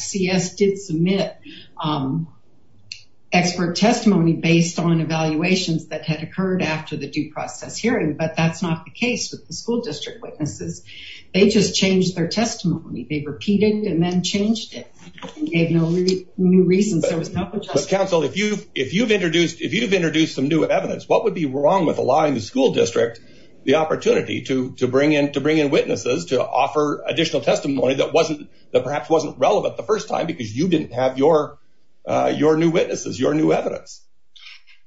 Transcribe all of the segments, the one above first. C.S. did submit expert testimony based on evaluations that had occurred after the due judgment was given to the school district, and they just changed their testimony. They repeated and then changed it. They had no new reasons. There was no... But, counsel, if you've introduced some new evidence, what would be wrong with allowing the school district the opportunity to bring in witnesses to offer additional testimony that perhaps wasn't relevant the first time because you didn't have your new witnesses, your new evidence?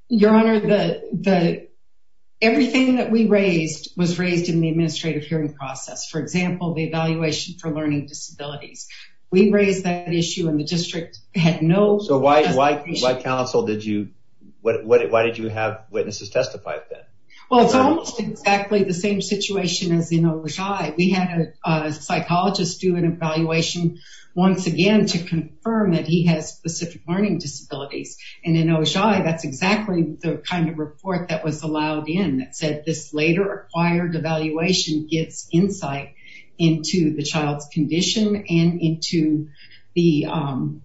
Your Honor, everything that we raised was raised in the administrative hearing process. For example, the evaluation for learning disabilities. We raised that issue and the district had no... So why, counsel, did you... Why did you have witnesses testify then? Well, it's almost exactly the same situation as in Ojai. We had a psychologist do an evaluation once again to confirm that he has specific learning disabilities. And in Ojai, that's exactly the kind of report that was allowed in that said this later acquired evaluation gives insight into the child's condition and into the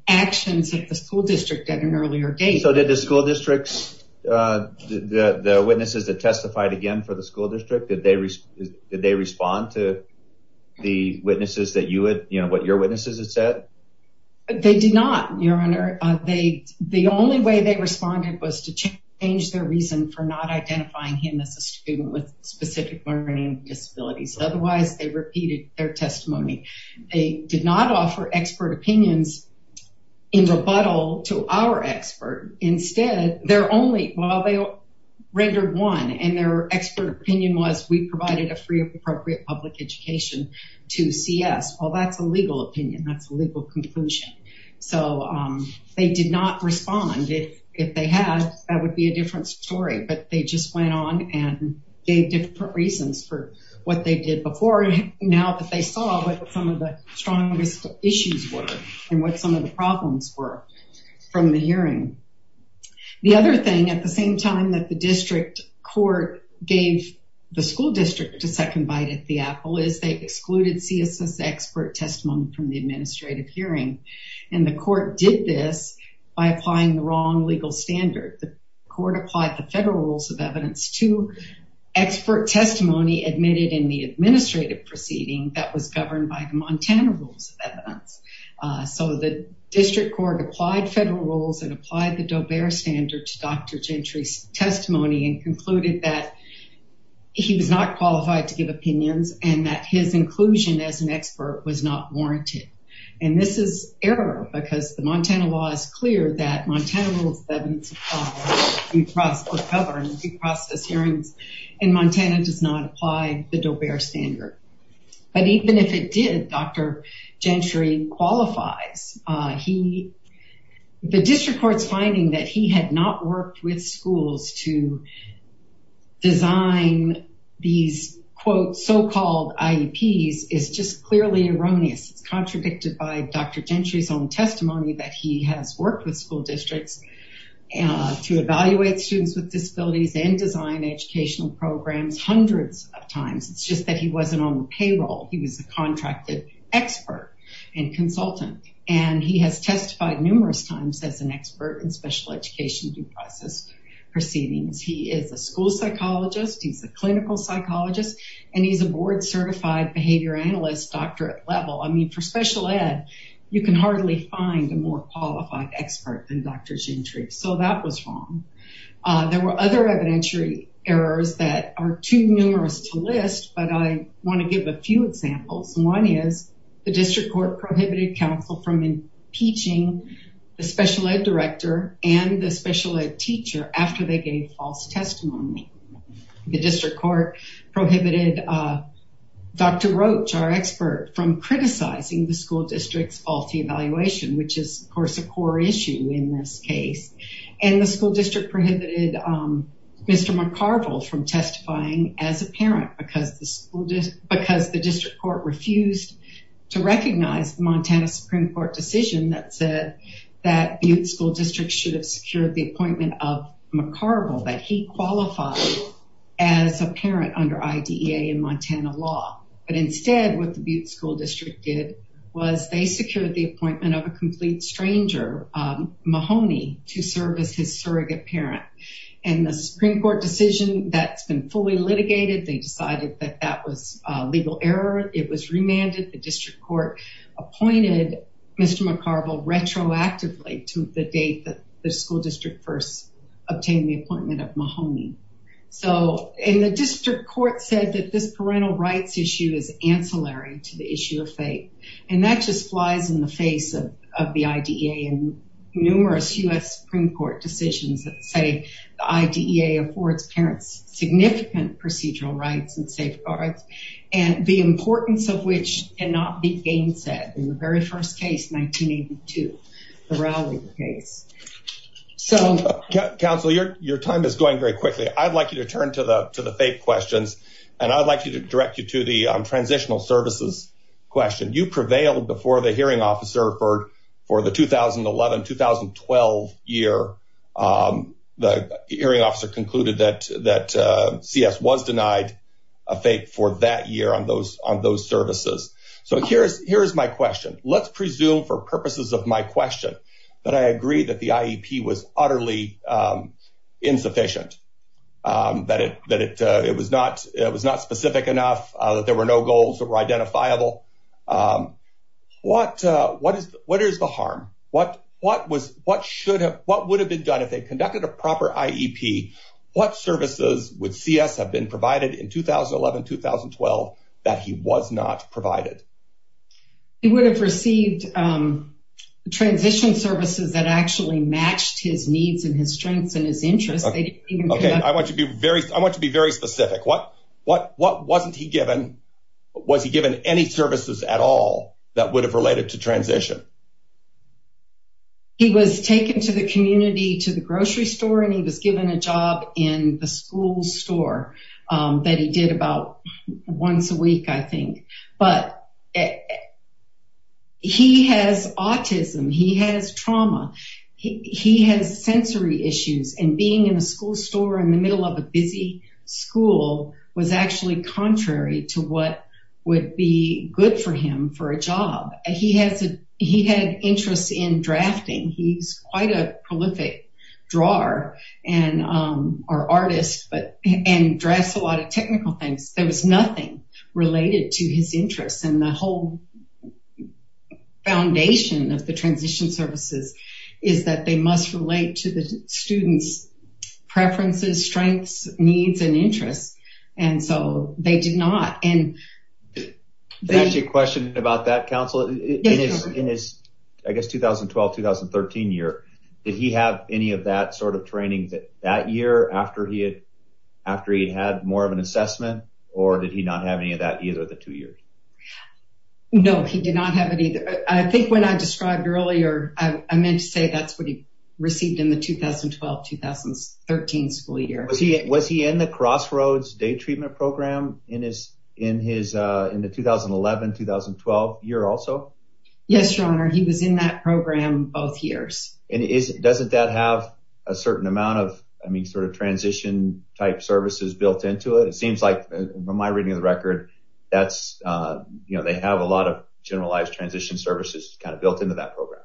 actions of the school district at an earlier date. So did the school district's... The witnesses that testified again for the school district, did they respond to the witnesses that you had... You know, what your witnesses had said? They did not, Your Honor. The only way they responded was to change their reason for not identifying him as a student with specific learning disabilities. Otherwise, they repeated their testimony. They did not offer expert opinions in rebuttal to our expert. Instead, they're only... Well, they rendered one and their expert opinion was we provided a free of appropriate public education to CS. Well, that's a legal opinion. That's a legal conclusion. So they did not respond. If they had, that would be a different story, but they just went on and gave different reasons for what they did before. Now that they saw what some of the strongest issues were and what some of the problems were from the hearing. The other thing at the same time that the district court gave the school district a second bite at the apple is they excluded CSS expert testimony from the administrative hearing. And the court did this by applying the wrong legal standard. The court applied the federal rules of evidence to expert testimony admitted in the administrative proceeding that was governed by the Montana rules of evidence. So the district court applied federal rules and applied the Doe-Bear standard to Dr. Gentry's testimony and concluded that he was not qualified to give opinions and that his inclusion as an expert was not warranted. And this is error because the Montana law is clear that Montana rules of evidence are covered in due process hearings and Montana does not apply the Doe-Bear standard. But even if it did, Dr. Gentry qualifies. The district court's finding that he had not worked with schools to design these, quote, so-called IEPs is just clearly erroneous. It's contradicted by Dr. Gentry's own testimony that he has worked with school districts to evaluate students with disabilities and design educational programs hundreds of times. It's just that he wasn't on the payroll. He was a contracted expert and consultant, and he has testified numerous times as an expert in special education due process proceedings. He is a school psychologist. He's a clinical psychologist, and he's a board-certified behavior analyst doctorate level. I mean, for special ed, you can hardly find a more qualified expert than Dr. Gentry, so that was wrong. There were other evidentiary errors that are too numerous to list, but I want to give a few examples. One is the district court prohibited counsel from impeaching the special ed director and the special ed teacher after they gave false testimony. The district court prohibited Dr. Roach, our expert, from criticizing the school district's faulty evaluation, which is, of course, a core issue in this case. And the school district prohibited Mr. McCarville from testifying as a parent because the district court refused to recognize the Montana Supreme Court decision that said that Butte School District should have secured the appointment of McCarville, that he qualified as a parent under IDEA and Montana law. But instead, what the Butte School District did was they secured the appointment of a complete stranger, Mahoney, to serve as his surrogate parent. And the Supreme Court decision that's been fully litigated, they decided that that was a legal error. It was remanded. The district court appointed Mr. McCarville retroactively to the date that the school district first obtained the appointment of Mahoney. And the district court said that this parental rights issue is ancillary to the issue of fate. And that just flies in the face of the IDEA and numerous U.S. Supreme Court decisions that say the IDEA affords parents significant procedural rights and safeguards, and the importance of which cannot be gainsaid in the very first case, 1982, the Rowley case. So, Counsel, your time is going very quickly. I'd like you to turn to the to the fake questions, and I'd like you to direct you to the transitional services question. You prevailed before the hearing officer for the 2011-2012 year. The hearing officer concluded that CS was denied a fake for that year on those services. So here is my question. Let's presume for purposes of my question that I agree that the IEP was utterly insufficient, that it was not specific enough, that there were no goals that were identifiable. What is the harm? What would have been done if they conducted a proper IEP? What services would CS have been provided in 2011-2012 that he was not provided? He would have received transition services that actually matched his needs and his strengths and his interests. Okay. I want to be very specific. What wasn't he given? Was he given any services at all that would have related to transition? He was taken to the community, to the grocery store, and he was given a job in the school store that he did about once a week, I think. But he has autism. He has trauma. He has sensory issues, and being in a school store in the middle of a busy school was actually contrary to what would be good for him for a job. He had an interest in drafting. He's quite a prolific artist and drafts a lot of technical things. There was nothing related to his interests, and the whole foundation of the transition services is that they must relate to the student's preferences, strengths, needs, and interests. And so they did not. Can I ask you a question about that, Counselor? In his, I guess, 2012-2013 year, did he have any of that sort of training that year after he had more of an assessment, or did he not have any of that either the two years? No, he did not have any. I think when I described earlier, I meant to say that's what he received in the 2012-2013 school year. Was he in the Crossroads Day Treatment Program in the 2011-2012 year also? Yes, Your Honor. He was in that program both years. And doesn't that have a certain amount of, I mean, sort of transition-type services built into it? It seems like, from my reading of the record, they have a lot of generalized transition services kind of built into that program.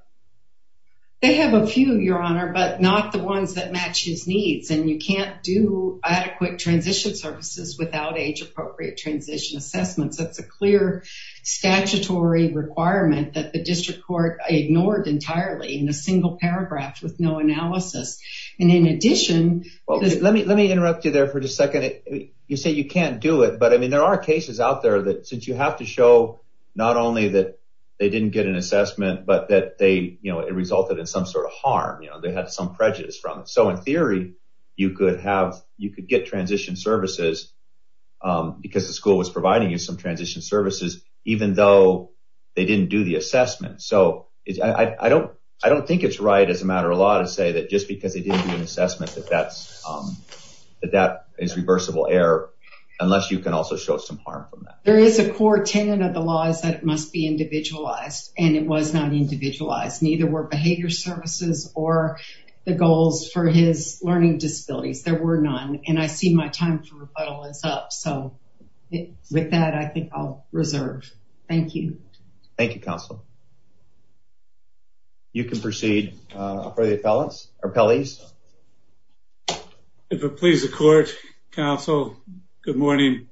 They have a few, Your Honor, but not the ones that match his needs. And you can't do adequate transition services without age-appropriate transition assessments. That's a clear statutory requirement that the district court ignored entirely in a single paragraph with no analysis. And in addition— You say you can't do it, but, I mean, there are cases out there that since you have to show not only that they didn't get an assessment, but that it resulted in some sort of harm. They had some prejudice from it. So, in theory, you could get transition services because the school was providing you some transition services even though they didn't do the assessment. So, I don't think it's right as a matter of law to say that just because they didn't do an assessment that that is reversible error, unless you can also show some harm from that. There is a core tenet of the law is that it must be individualized. And it was not individualized. Neither were behavior services or the goals for his learning disabilities. There were none. And I see my time for rebuttal is up. So, with that, I think I'll reserve. Thank you. Thank you, Council. You can proceed. If it pleases the court, Council, good morning.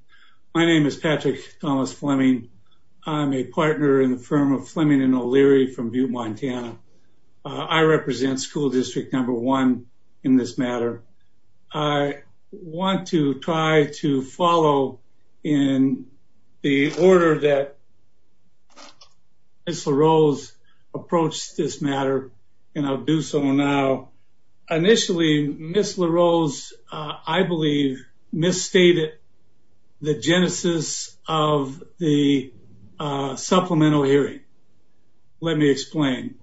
My name is Patrick Thomas Fleming. I'm a partner in the firm of Fleming and O'Leary from Butte, Montana. I represent school district number one in this matter. I want to try to follow in the order that Ms. LaRose approached this matter, and I'll do so now. Initially, Ms. LaRose, I believe, misstated the genesis of the supplemental hearing. Let me explain.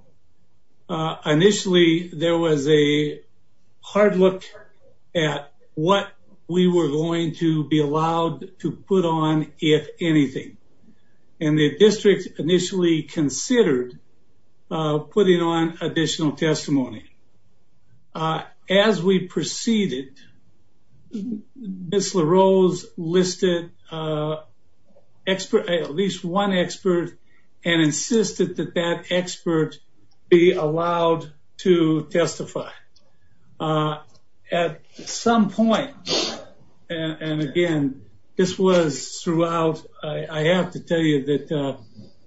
Initially, there was a hard look at what we were going to be allowed to put on, if anything. And the district initially considered putting on additional testimony. As we proceeded, Ms. LaRose listed at least one expert and insisted that that expert be allowed to testify. At some point, and again, this was throughout. I have to tell you that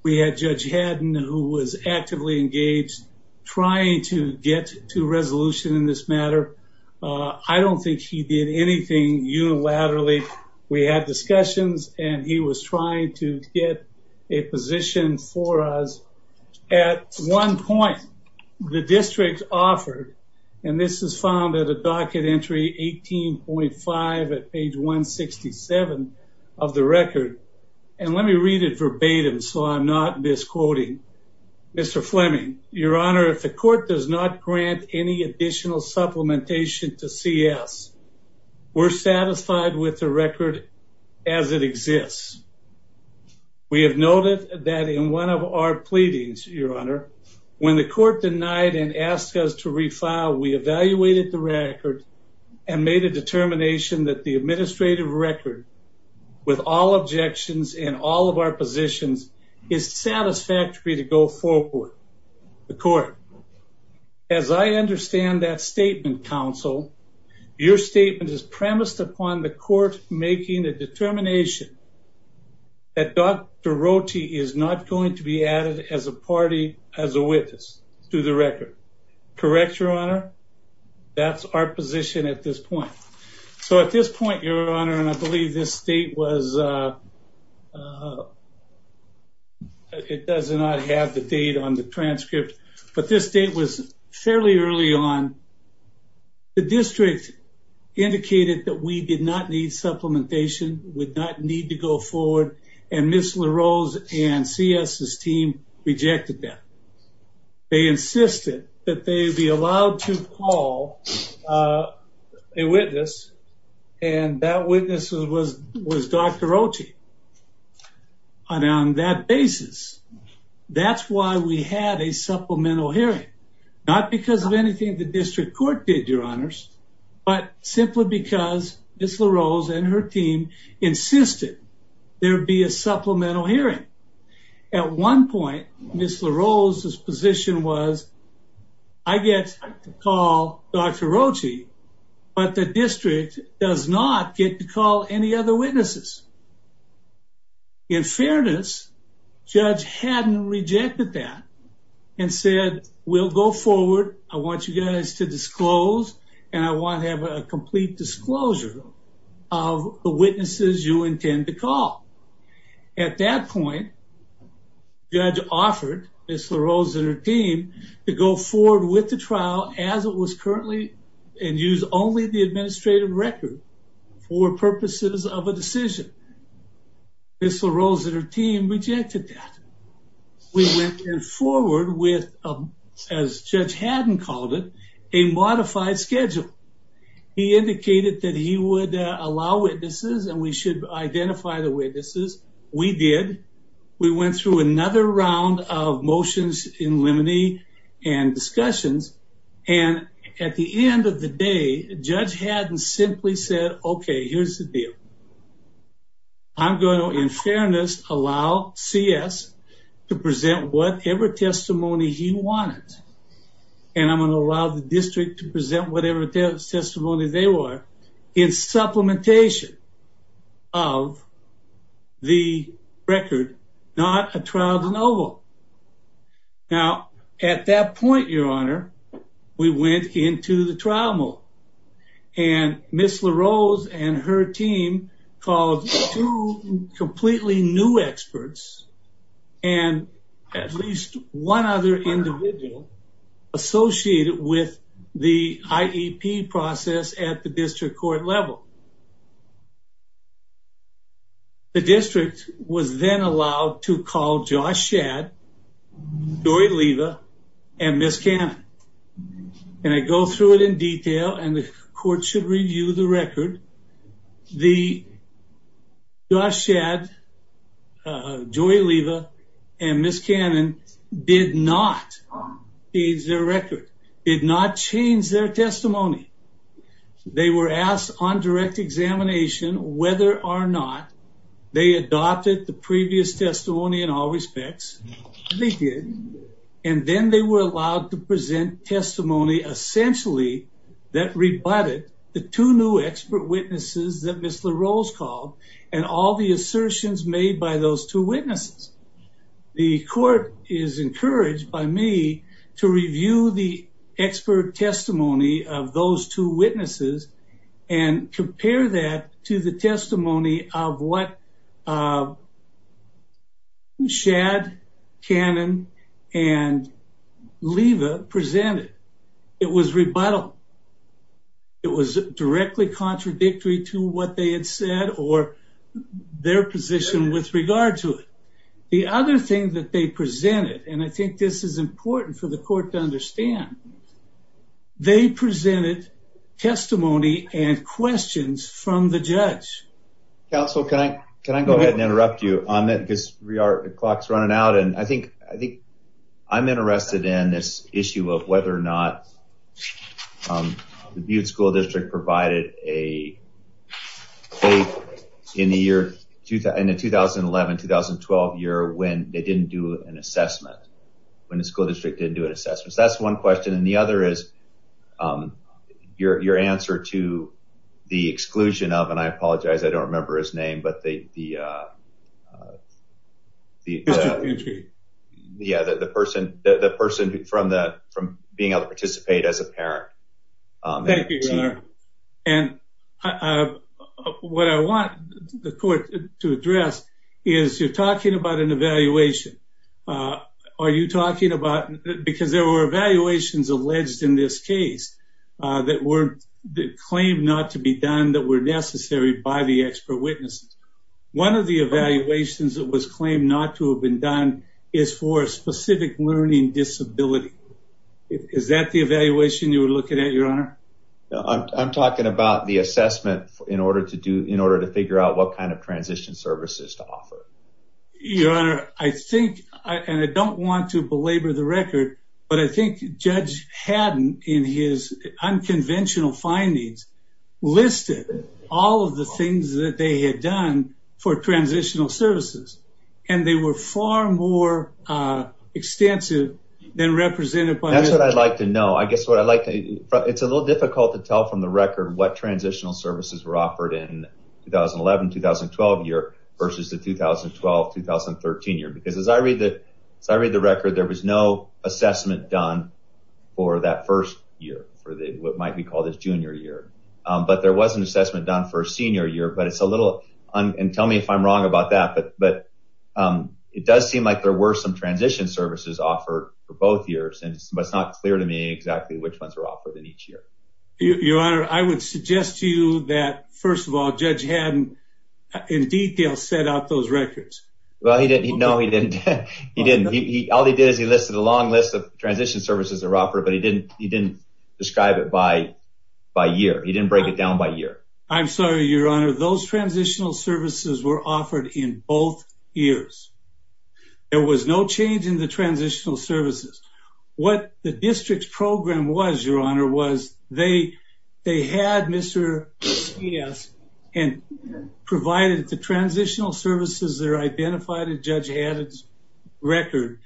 we had Judge Haddon, who was actively engaged, trying to get to resolution in this matter. I don't think he did anything unilaterally. We had discussions, and he was trying to get a position for us. At one point, the district offered, and this is found at a docket entry 18.5 at page 167 of the record. And let me read it verbatim so I'm not misquoting. Mr. Fleming, Your Honor, if the court does not grant any additional supplementation to CS, we're satisfied with the record as it exists. We have noted that in one of our pleadings, Your Honor, when the court denied and asked us to refile, we evaluated the record and made a determination that the administrative record, with all objections in all of our positions, is satisfactory to go forward. The court. As I understand that statement, counsel, your statement is premised upon the court making a determination that Dr. Rote is not going to be added as a party, as a witness to the record. Correct, Your Honor? That's our position at this point. So at this point, Your Honor, and I believe this date was, it does not have the date on the transcript, but this date was fairly early on. The district indicated that we did not need supplementation, would not need to go forward, and Ms. LaRose and CS's team rejected that. They insisted that they be allowed to call a witness and that witness was Dr. Rote on that basis. That's why we had a supplemental hearing, not because of anything the district court did, Your Honors, but simply because Ms. LaRose and her team insisted there be a supplemental hearing. At one point, Ms. LaRose's position was, I get to call Dr. Rote, but the district does not get to call any other witnesses. In fairness, judge hadn't rejected that and said, we'll go forward. I want you guys to disclose and I want to have a complete disclosure of the witnesses you intend to call. At that point, judge offered Ms. LaRose and her team to go forward with the trial as it was currently and use only the administrative record for purposes of a decision. Ms. LaRose and her team rejected that. We went forward with, as Judge Haddon called it, a modified schedule. He indicated that he would allow witnesses and we should identify the witnesses. We did. We went through another round of motions in limine and discussions. And at the end of the day, Judge Haddon simply said, okay, here's the deal. I'm going to, in fairness, allow CS to present whatever testimony he wanted. And I'm going to allow the district to present whatever testimony they want in supplementation of the record, not a trial de novo. Now, at that point, your honor, we went into the trial mode and Ms. LaRose and her team called two completely new experts. And at least one other individual associated with the IEP process at the district court level. The district was then allowed to call Josh Shadd, Joy Leva, and Ms. Cannon. And I go through it in detail and the court should review the record. The Josh Shadd, Joy Leva, and Ms. Cannon did not change their record, did not change their testimony. They were asked on direct examination whether or not they adopted the previous testimony in all respects. They did. And then they were allowed to present testimony essentially that rebutted the two new expert witnesses that Ms. LaRose called and all the assertions made by those two witnesses. The court is encouraged by me to review the expert testimony of those two witnesses and compare that to the testimony of what Shadd, Cannon, and Leva presented. It was rebuttal. It was directly contradictory to what they had said or their position with regard to it. The other thing that they presented, and I think this is important for the court to understand, they presented testimony and questions from the judge. Council, can I go ahead and interrupt you on that because the clock is running out. And I think I'm interested in this issue of whether or not the Butte School District provided a case in the 2011-2012 year when they didn't do an assessment, when the school district didn't do an assessment. That's one question. And the other is your answer to the exclusion of, and I apologize, I don't remember his name, but the person from being able to participate as a parent. Thank you, Your Honor. And what I want the court to address is you're talking about an evaluation. Are you talking about, because there were evaluations alleged in this case that claimed not to be done that were necessary by the expert witnesses. One of the evaluations that was claimed not to have been done is for a specific learning disability. Is that the evaluation you were looking at, Your Honor? I'm talking about the assessment in order to figure out what kind of transition services to offer. Your Honor, I think, and I don't want to belabor the record, but I think Judge Haddon, in his unconventional findings, listed all of the things that they had done for transitional services. And they were far more extensive than represented by… That's what I'd like to know. I guess what I'd like to, it's a little difficult to tell from the record what transitional services were offered in the 2011-2012 year versus the 2012-2013 year. Because as I read the record, there was no assessment done for that first year, for what might be called his junior year. But there was an assessment done for his senior year, but it's a little, and tell me if I'm wrong about that, but it does seem like there were some transition services offered for both years, but it's not clear to me exactly which ones were offered in each year. Your Honor, I would suggest to you that, first of all, Judge Haddon, in detail, set out those records. Well, no, he didn't. He didn't. All he did is he listed a long list of transition services that were offered, but he didn't describe it by year. He didn't break it down by year. I'm sorry, Your Honor. Those transitional services were offered in both years. There was no change in the transitional services. What the district's program was, Your Honor, was they had Mr. Skias and provided the transitional services that are identified in Judge Haddon's record,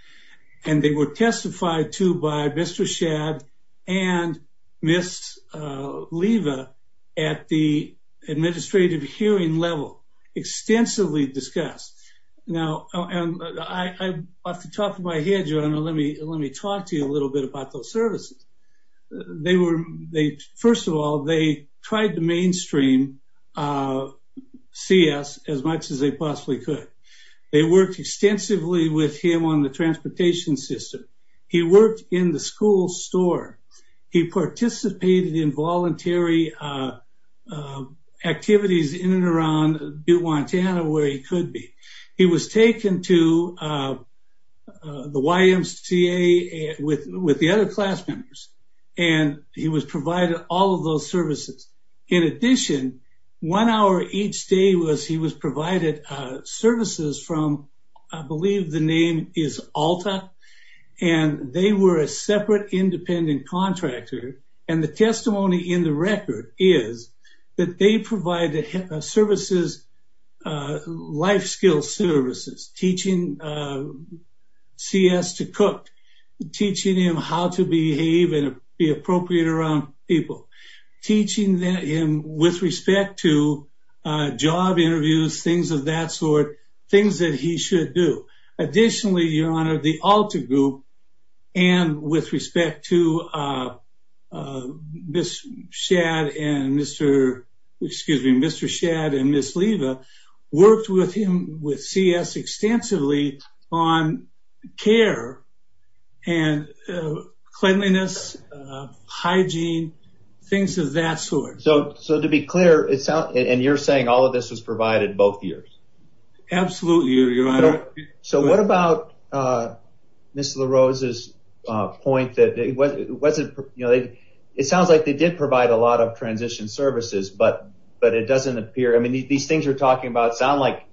and they were testified to by Mr. Shadd and Ms. Leva at the administrative hearing level, extensively discussed. Now, off the top of my head, Your Honor, let me talk to you a little bit about those services. First of all, they tried to mainstream CS as much as they possibly could. They worked extensively with him on the transportation system. He worked in the school store. He participated in voluntary activities in and around Butte, Montana, where he could be. He was taken to the YMCA with the other class members, and he was provided all of those services. In addition, one hour each day he was provided services from, I believe the name is Alta, and they were a separate independent contractor. And the testimony in the record is that they provided services, life skills services, teaching CS to cook, teaching him how to behave and be appropriate around people, teaching him with respect to job interviews, things of that sort, things that he should do. Additionally, Your Honor, the Alta group, and with respect to Mr. Shadd and Ms. Leva, worked with him with CS extensively on care and cleanliness, hygiene, things of that sort. So to be clear, and you're saying all of this was provided both years? Absolutely, Your Honor. So what about Ms. LaRose's point that it sounds like they did provide a lot of transition services, but it doesn't appear, I mean, these things you're talking about sound like,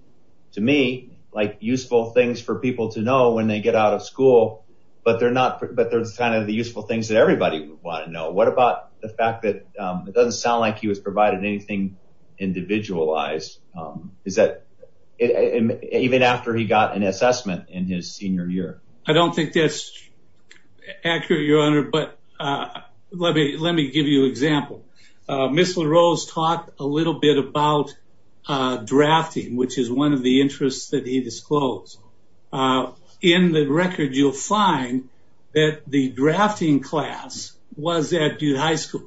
to me, like useful things for people to know when they get out of school, but they're kind of the useful things that everybody would want to know. What about the fact that it doesn't sound like he was provided anything individualized, even after he got an assessment in his senior year? I don't think that's accurate, Your Honor, but let me give you an example. Ms. LaRose talked a little bit about drafting, which is one of the interests that he disclosed. In the record, you'll find that the drafting class was at Duke High School,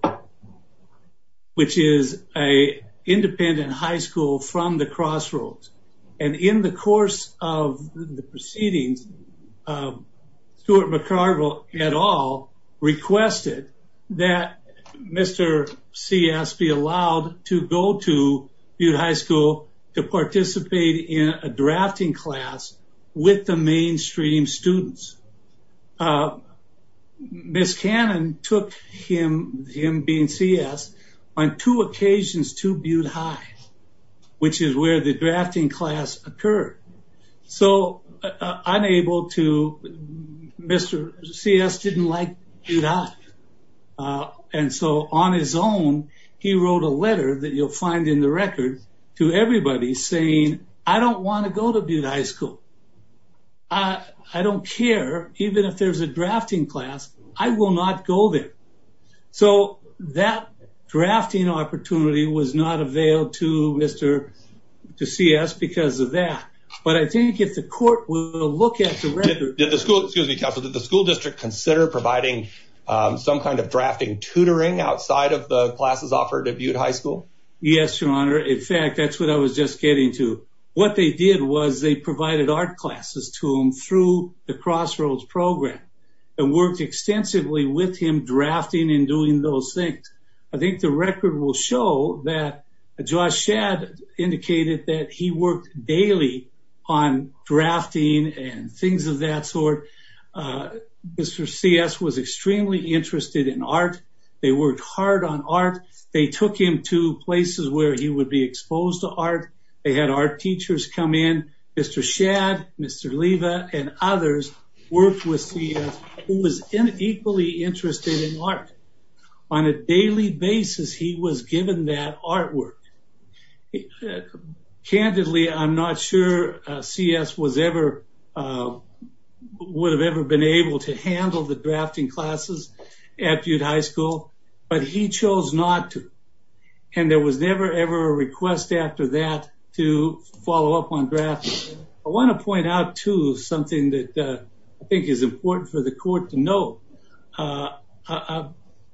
which is an independent high school from the crossroads. And in the course of the proceedings, Stuart McCarville et al. requested that Mr. C.S. be allowed to go to Butte High School to participate in a drafting class with the mainstream students. Ms. Cannon took him, him being C.S., on two occasions to Butte High, which is where the drafting class occurred. So unable to, Mr. C.S. didn't like Butte High, and so on his own, he wrote a letter that you'll find in the record to everybody saying, I don't want to go to Butte High School. I don't care, even if there's a drafting class, I will not go there. So that drafting opportunity was not availed to Mr. C.S. because of that. But I think if the court will look at the record... Did the school district consider providing some kind of drafting tutoring outside of the classes offered at Butte High School? Yes, Your Honor. In fact, that's what I was just getting to. What they did was they provided art classes to him through the crossroads program and worked extensively with him drafting and doing those things. I think the record will show that Josh Shad indicated that he worked daily on drafting and things of that sort. Mr. C.S. was extremely interested in art. They worked hard on art. They took him to places where he would be exposed to art. They had art teachers come in. Mr. Shad, Mr. Leiva, and others worked with C.S. who was equally interested in art. On a daily basis, he was given that artwork. Candidly, I'm not sure C.S. would have ever been able to handle the drafting classes at Butte High School, but he chose not to. There was never, ever a request after that to follow up on drafting. I want to point out, too, something that I think is important for the court to know.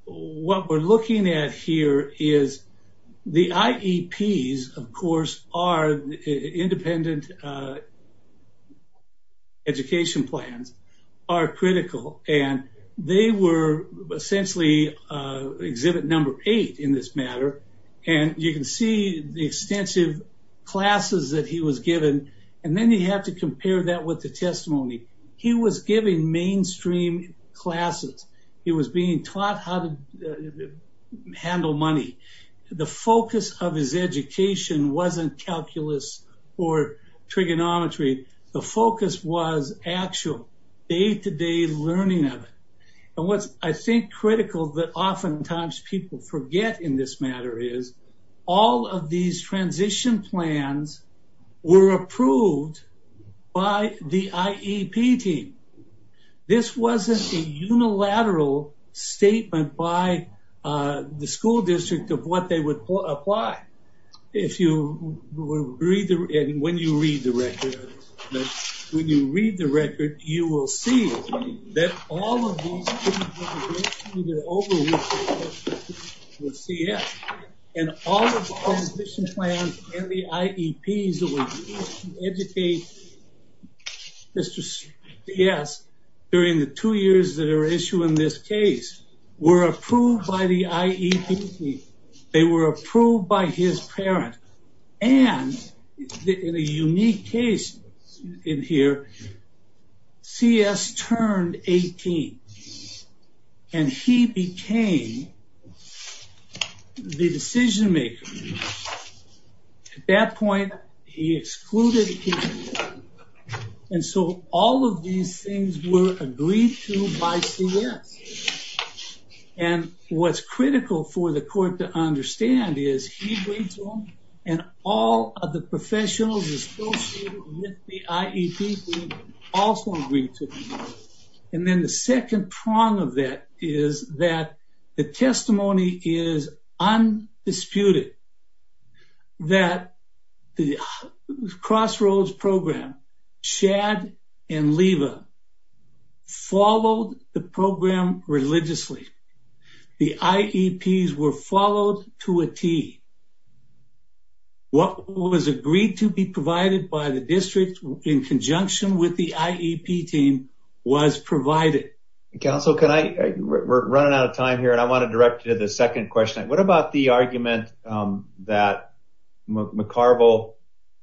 What we're looking at here is the IEPs, of course, are independent education plans, are critical, and they were essentially exhibit number eight in this matter. You can see the extensive classes that he was given, and then you have to compare that with the testimony. He was giving mainstream classes. He was being taught how to handle money. The focus of his education wasn't calculus or trigonometry. The focus was actual day-to-day learning of it. What's, I think, critical that oftentimes people forget in this matter is all of these transition plans were approved by the IEP team. This wasn't a unilateral statement by the school district of what they would apply. When you read the record, you will see that all of these things were eventually overwritten with CS, and all of the transition plans and the IEPs that were used to educate Mr. CS during the two years that are issued in this case were approved by the IEP team. They were approved by his parent, and in a unique case in here, CS turned 18, and he became the decision-maker. At that point, he excluded him, and so all of these things were agreed to by CS. What's critical for the court to understand is he agreed to them, and all of the professionals associated with the IEP team also agreed to them. Then the second prong of that is that the testimony is undisputed that the Crossroads program, Shad and Leva, followed the program religiously. The IEPs were followed to a T. What was agreed to be provided by the district in conjunction with the IEP team was provided. Counsel, we're running out of time here, and I want to direct you to the second question. What about the argument that McCarville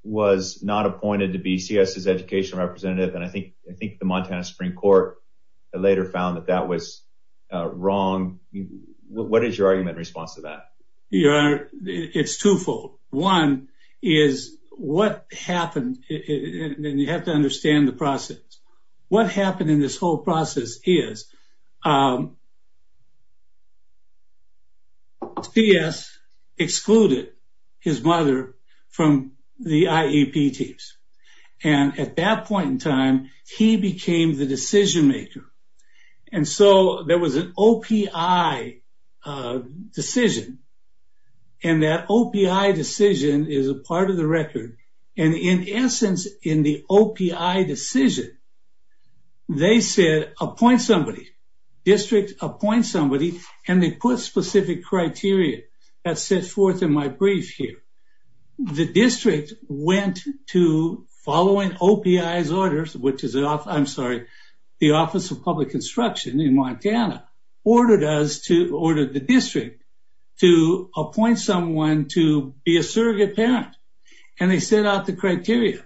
was not appointed to be CS' educational representative, and I think the Montana Supreme Court later found that that was wrong? What is your argument in response to that? Your Honor, it's twofold. One is what happened, and you have to understand the process. What happened in this whole process is CS excluded his mother from the IEP teams, and at that point in time, he became the decision-maker, and so there was an OPI decision, and that OPI decision is a part of the record, and in essence, in the OPI decision, they said, appoint somebody. District, appoint somebody, and they put specific criteria. That's set forth in my brief here. The district went to following OPI's orders, which is the Office of Public Instruction in Montana ordered the district to appoint someone to be a surrogate parent, and they set out the criteria.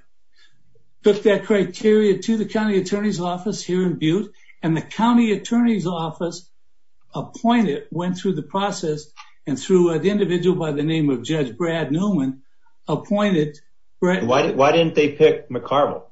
Took that criteria to the county attorney's office here in Butte, and the county attorney's office appointed, went through the process, and through an individual by the name of Judge Brad Newman appointed. Why didn't they pick McCarville?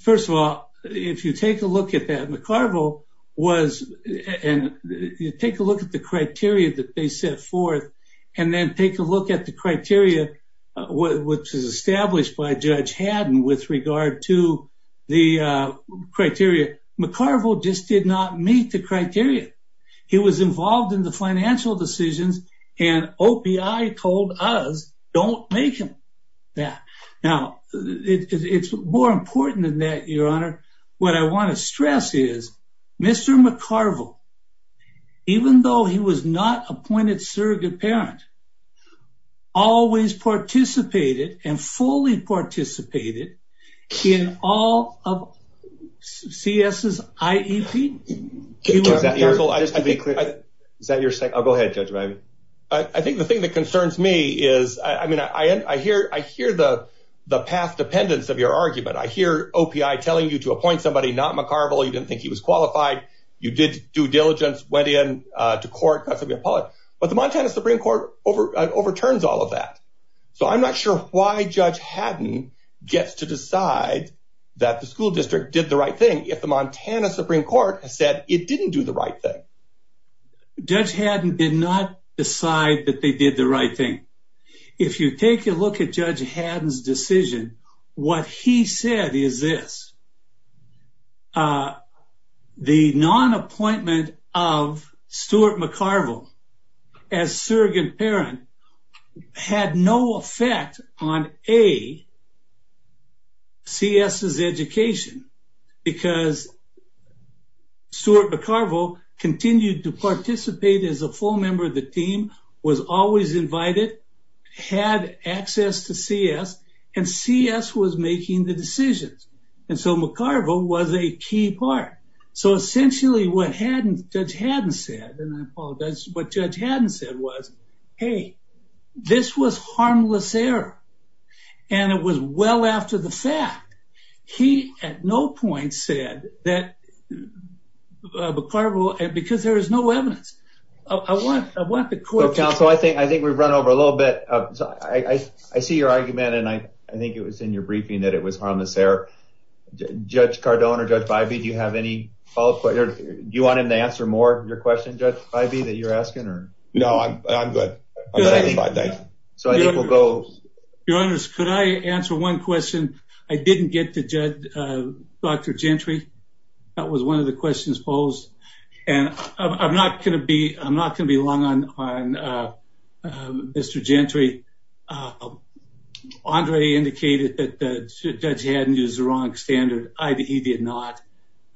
First of all, if you take a look at that, McCarville was – take a look at the criteria that they set forth, and then take a look at the criteria which is established by Judge Haddon with regard to the criteria. McCarville just did not meet the criteria. He was involved in the financial decisions, and OPI told us don't make him that. Now, it's more important than that, Your Honor. What I want to stress is Mr. McCarville, even though he was not appointed surrogate parent, always participated and fully participated in all of CS's IEP. Is that your second? Go ahead, Judge Reilly. I think the thing that concerns me is, I mean, I hear the path dependence of your argument. I hear OPI telling you to appoint somebody not McCarville. You didn't think he was qualified. You did due diligence, went in to court, got something appellate. But the Montana Supreme Court overturns all of that. So I'm not sure why Judge Haddon gets to decide that the school district did the right thing if the Montana Supreme Court has said it didn't do the right thing. Judge Haddon did not decide that they did the right thing. If you take a look at Judge Haddon's decision, what he said is this. The non-appointment of Stuart McCarville as surrogate parent had no effect on A, CS's education because Stuart McCarville continued to participate as a full member of the team, was always invited, had access to CS, and CS was making the decisions. And so McCarville was a key part. So essentially what Judge Haddon said, and I apologize, what Judge Haddon said was, hey, this was harmless error. And it was well after the fact. He at no point said that McCarville, because there is no evidence. So, counsel, I think we've run over a little bit. I see your argument, and I think it was in your briefing that it was harmless error. Judge Cardone or Judge Bivey, do you have any follow-up questions? Do you want him to answer more of your question, Judge Bivey, that you're asking? No, I'm good. Your Honor, could I answer one question? I didn't get to Dr. Gentry. That was one of the questions posed. I'm not going to be long on Mr. Gentry. Andre indicated that Judge Haddon used the wrong standard. He did not.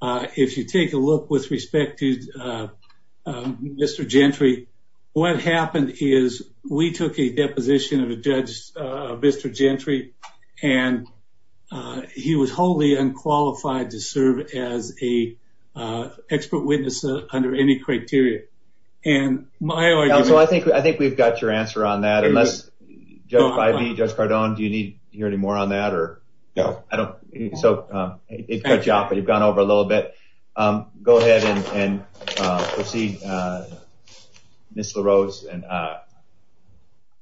If you take a look with respect to Mr. Gentry, what happened is we took a deposition of a judge, Mr. Gentry, and he was wholly unqualified to serve as an expert witness under any criteria. And my argument... Counsel, I think we've got your answer on that. Unless, Judge Bivey, Judge Cardone, do you need to hear any more on that? No. So, it cut you off, but you've gone over a little bit. Go ahead and proceed, Ms. LaRose.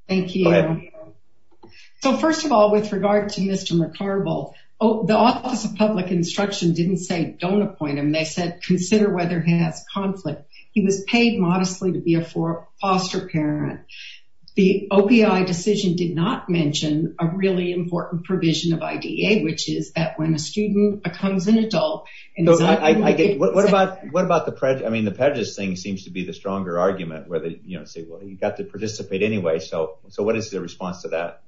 Thank you. Go ahead. So, first of all, with regard to Mr. McCarvel, the Office of Public Instruction didn't say don't appoint him. They said consider whether he has conflict. He was paid modestly to be a foster parent. The OPI decision did not mention a really important provision of IDA, which is that when a student becomes an adult... What about the prejudice thing seems to be the stronger argument, where they say, well, you've got to participate anyway. So, what is the response to that?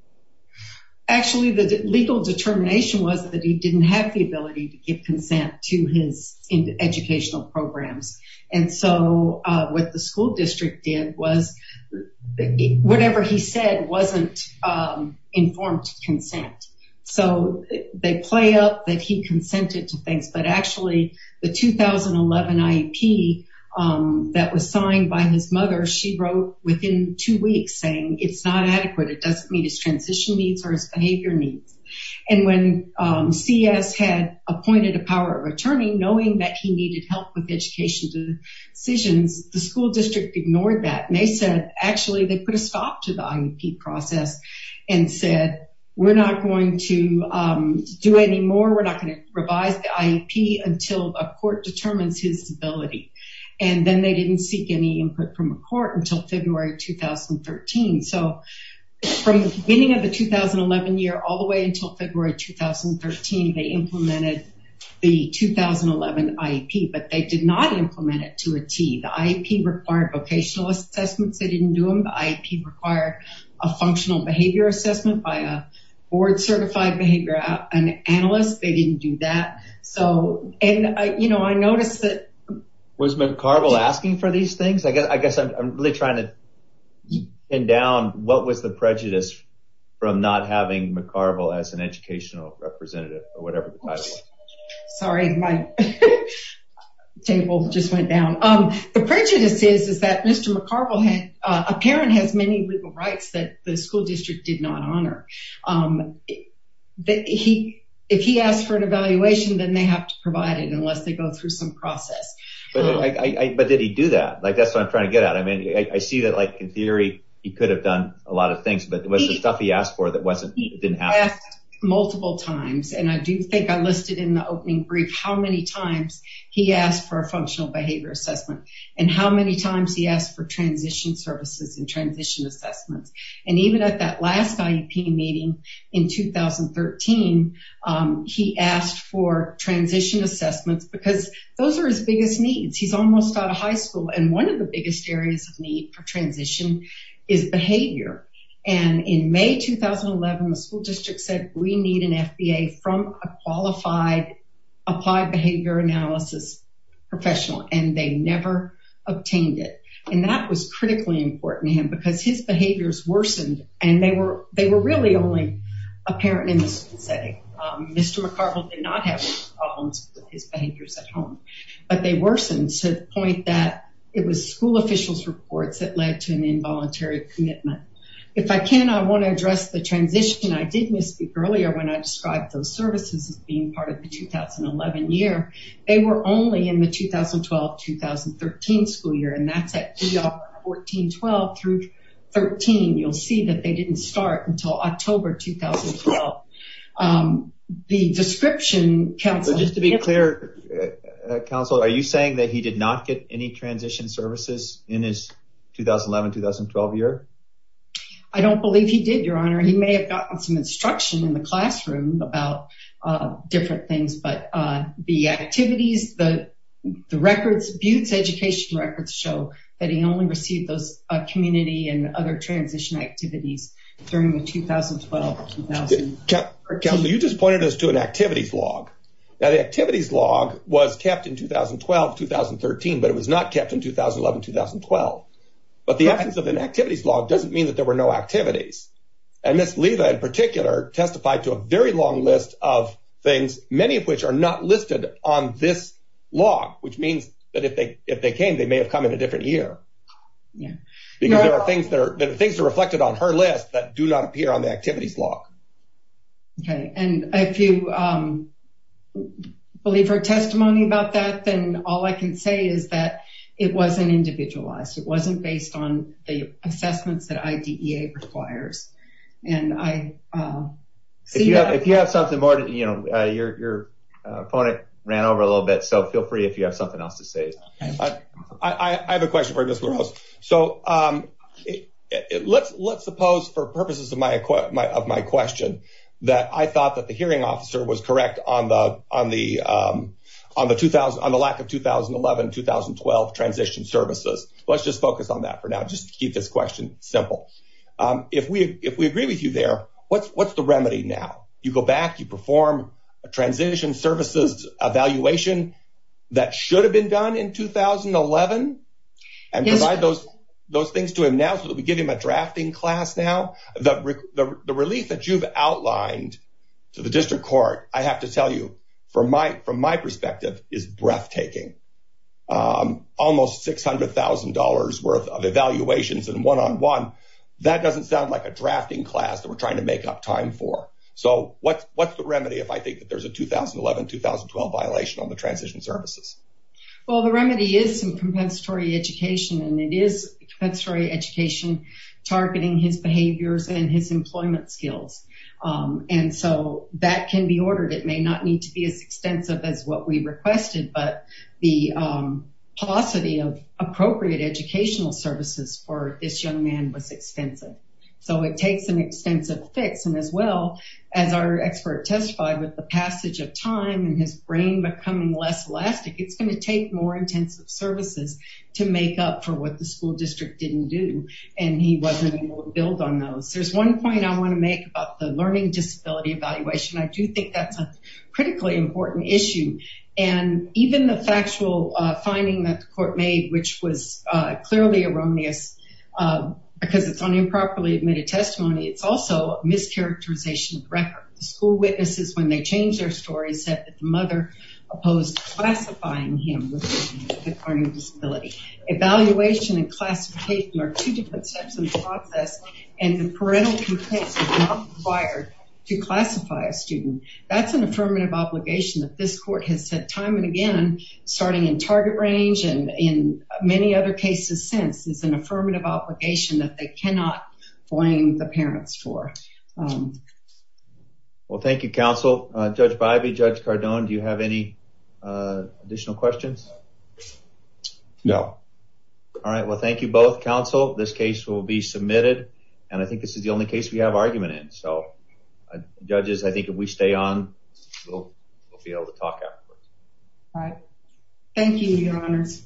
Actually, the legal determination was that he didn't have the ability to give consent to his educational programs. And so, what the school district did was whatever he said wasn't informed consent. So, they play up that he consented to things, but actually the 2011 IEP that was signed by his mother, she wrote within two weeks saying it's not adequate. It doesn't meet his transition needs or his behavior needs. And when CS had appointed a power of attorney, knowing that he needed help with education decisions, the school district ignored that. And they said, actually, they put a stop to the IEP process and said, we're not going to do any more. We're not going to revise the IEP until a court determines his ability. And then they didn't seek any input from a court until February 2013. So, from the beginning of the 2011 year all the way until February 2013, they implemented the 2011 IEP, but they did not implement it to a T. The IEP required vocational assessments. They didn't do them. The IEP required a functional behavior assessment by a board-certified behavior analyst. They didn't do that. And, you know, I noticed that. Was McCarvel asking for these things? I guess I'm really trying to pin down what was the prejudice from not having McCarvel as an educational representative or whatever the title was. Sorry, my table just went down. The prejudice is that Mr. McCarvel, a parent has many legal rights that the school district did not honor. If he asked for an evaluation, then they have to provide it unless they go through some process. But did he do that? That's what I'm trying to get at. I mean, I see that, like, in theory he could have done a lot of things, but was there stuff he asked for that didn't happen? He asked multiple times, and I do think I listed in the opening brief, how many times he asked for a functional behavior assessment and how many times he asked for transition services and transition assessments. And even at that last IEP meeting in 2013, he asked for transition assessments because those are his biggest needs. He's almost out of high school, and one of the biggest areas of need for transition is behavior. And in May 2011, the school district said, we need an FBA from a qualified applied behavior analysis professional, and they never obtained it. And that was critically important to him because his behaviors worsened, and they were really only apparent in the school setting. Mr. McCarville did not have problems with his behaviors at home, but they worsened to the point that it was school officials' reports that led to an involuntary commitment. If I can, I want to address the transition. I did misspeak earlier when I described those services as being part of the 2011 year. They were only in the 2012-2013 school year, and that's at 14-12 through 13. You'll see that they didn't start until October 2012. The description, Counselor, Just to be clear, Counselor, are you saying that he did not get any transition services in his 2011-2012 year? I don't believe he did, Your Honor. He may have gotten some instruction in the classroom about different things, but the activities, the records, Butte's education records show that he only received those community and other transition activities during the 2012-2013. Counselor, you just pointed us to an activities log. Now, the activities log was kept in 2012-2013, but it was not kept in 2011-2012. But the absence of an activities log doesn't mean that there were no activities. And Ms. Liva, in particular, testified to a very long list of things, many of which are not listed on this log, which means that if they came, they may have come in a different year. Because there are things that are reflected on her list that do not appear on the activities log. Okay, and if you believe her testimony about that, then all I can say is that it wasn't individualized. It wasn't based on the assessments that IDEA requires. And I see that. If you have something more, your opponent ran over a little bit, so feel free if you have something else to say. I have a question for you, Ms. LaRose. So let's suppose, for purposes of my question, that I thought that the hearing officer was correct on the lack of 2011-2012 transition services. Let's just focus on that for now, just to keep this question simple. If we agree with you there, what's the remedy now? You go back, you perform a transition services evaluation that should have been done in 2011 and provide those things to him now so that we give him a drafting class now? The relief that you've outlined to the district court, I have to tell you, from my perspective, is breathtaking. Almost $600,000 worth of evaluations and one-on-one, that doesn't sound like a drafting class that we're trying to make up time for. So what's the remedy if I think that there's a 2011-2012 violation on the transition services? Well, the remedy is some compensatory education, and it is compensatory education targeting his behaviors and his employment skills. And so that can be ordered. It may not need to be as extensive as what we requested, but the paucity of appropriate educational services for this young man was extensive. So it takes an extensive fix, and as well, as our expert testified, with the passage of time and his brain becoming less elastic, it's going to take more intensive services to make up for what the school district didn't do, and he wasn't able to build on those. There's one point I want to make about the learning disability evaluation. I do think that's a critically important issue, and even the factual finding that the court made, which was clearly erroneous because it's an improperly admitted testimony, it's also a mischaracterization of the record. The school witnesses, when they changed their story, said that the mother opposed classifying him with a learning disability. Evaluation and classification are two different steps in the process, and the parental complaints are not required to classify a student. That's an affirmative obligation that this court has said time and again, starting in target range and in many other cases since. It's an affirmative obligation that they cannot blame the parents for. Well, thank you, counsel. Judge Bybee, Judge Cardone, do you have any additional questions? No. All right, well, thank you both. Counsel, this case will be submitted, and I think this is the only case we have argument in. Judges, I think if we stay on, we'll be able to talk afterwards. All right. Thank you, Your Honors.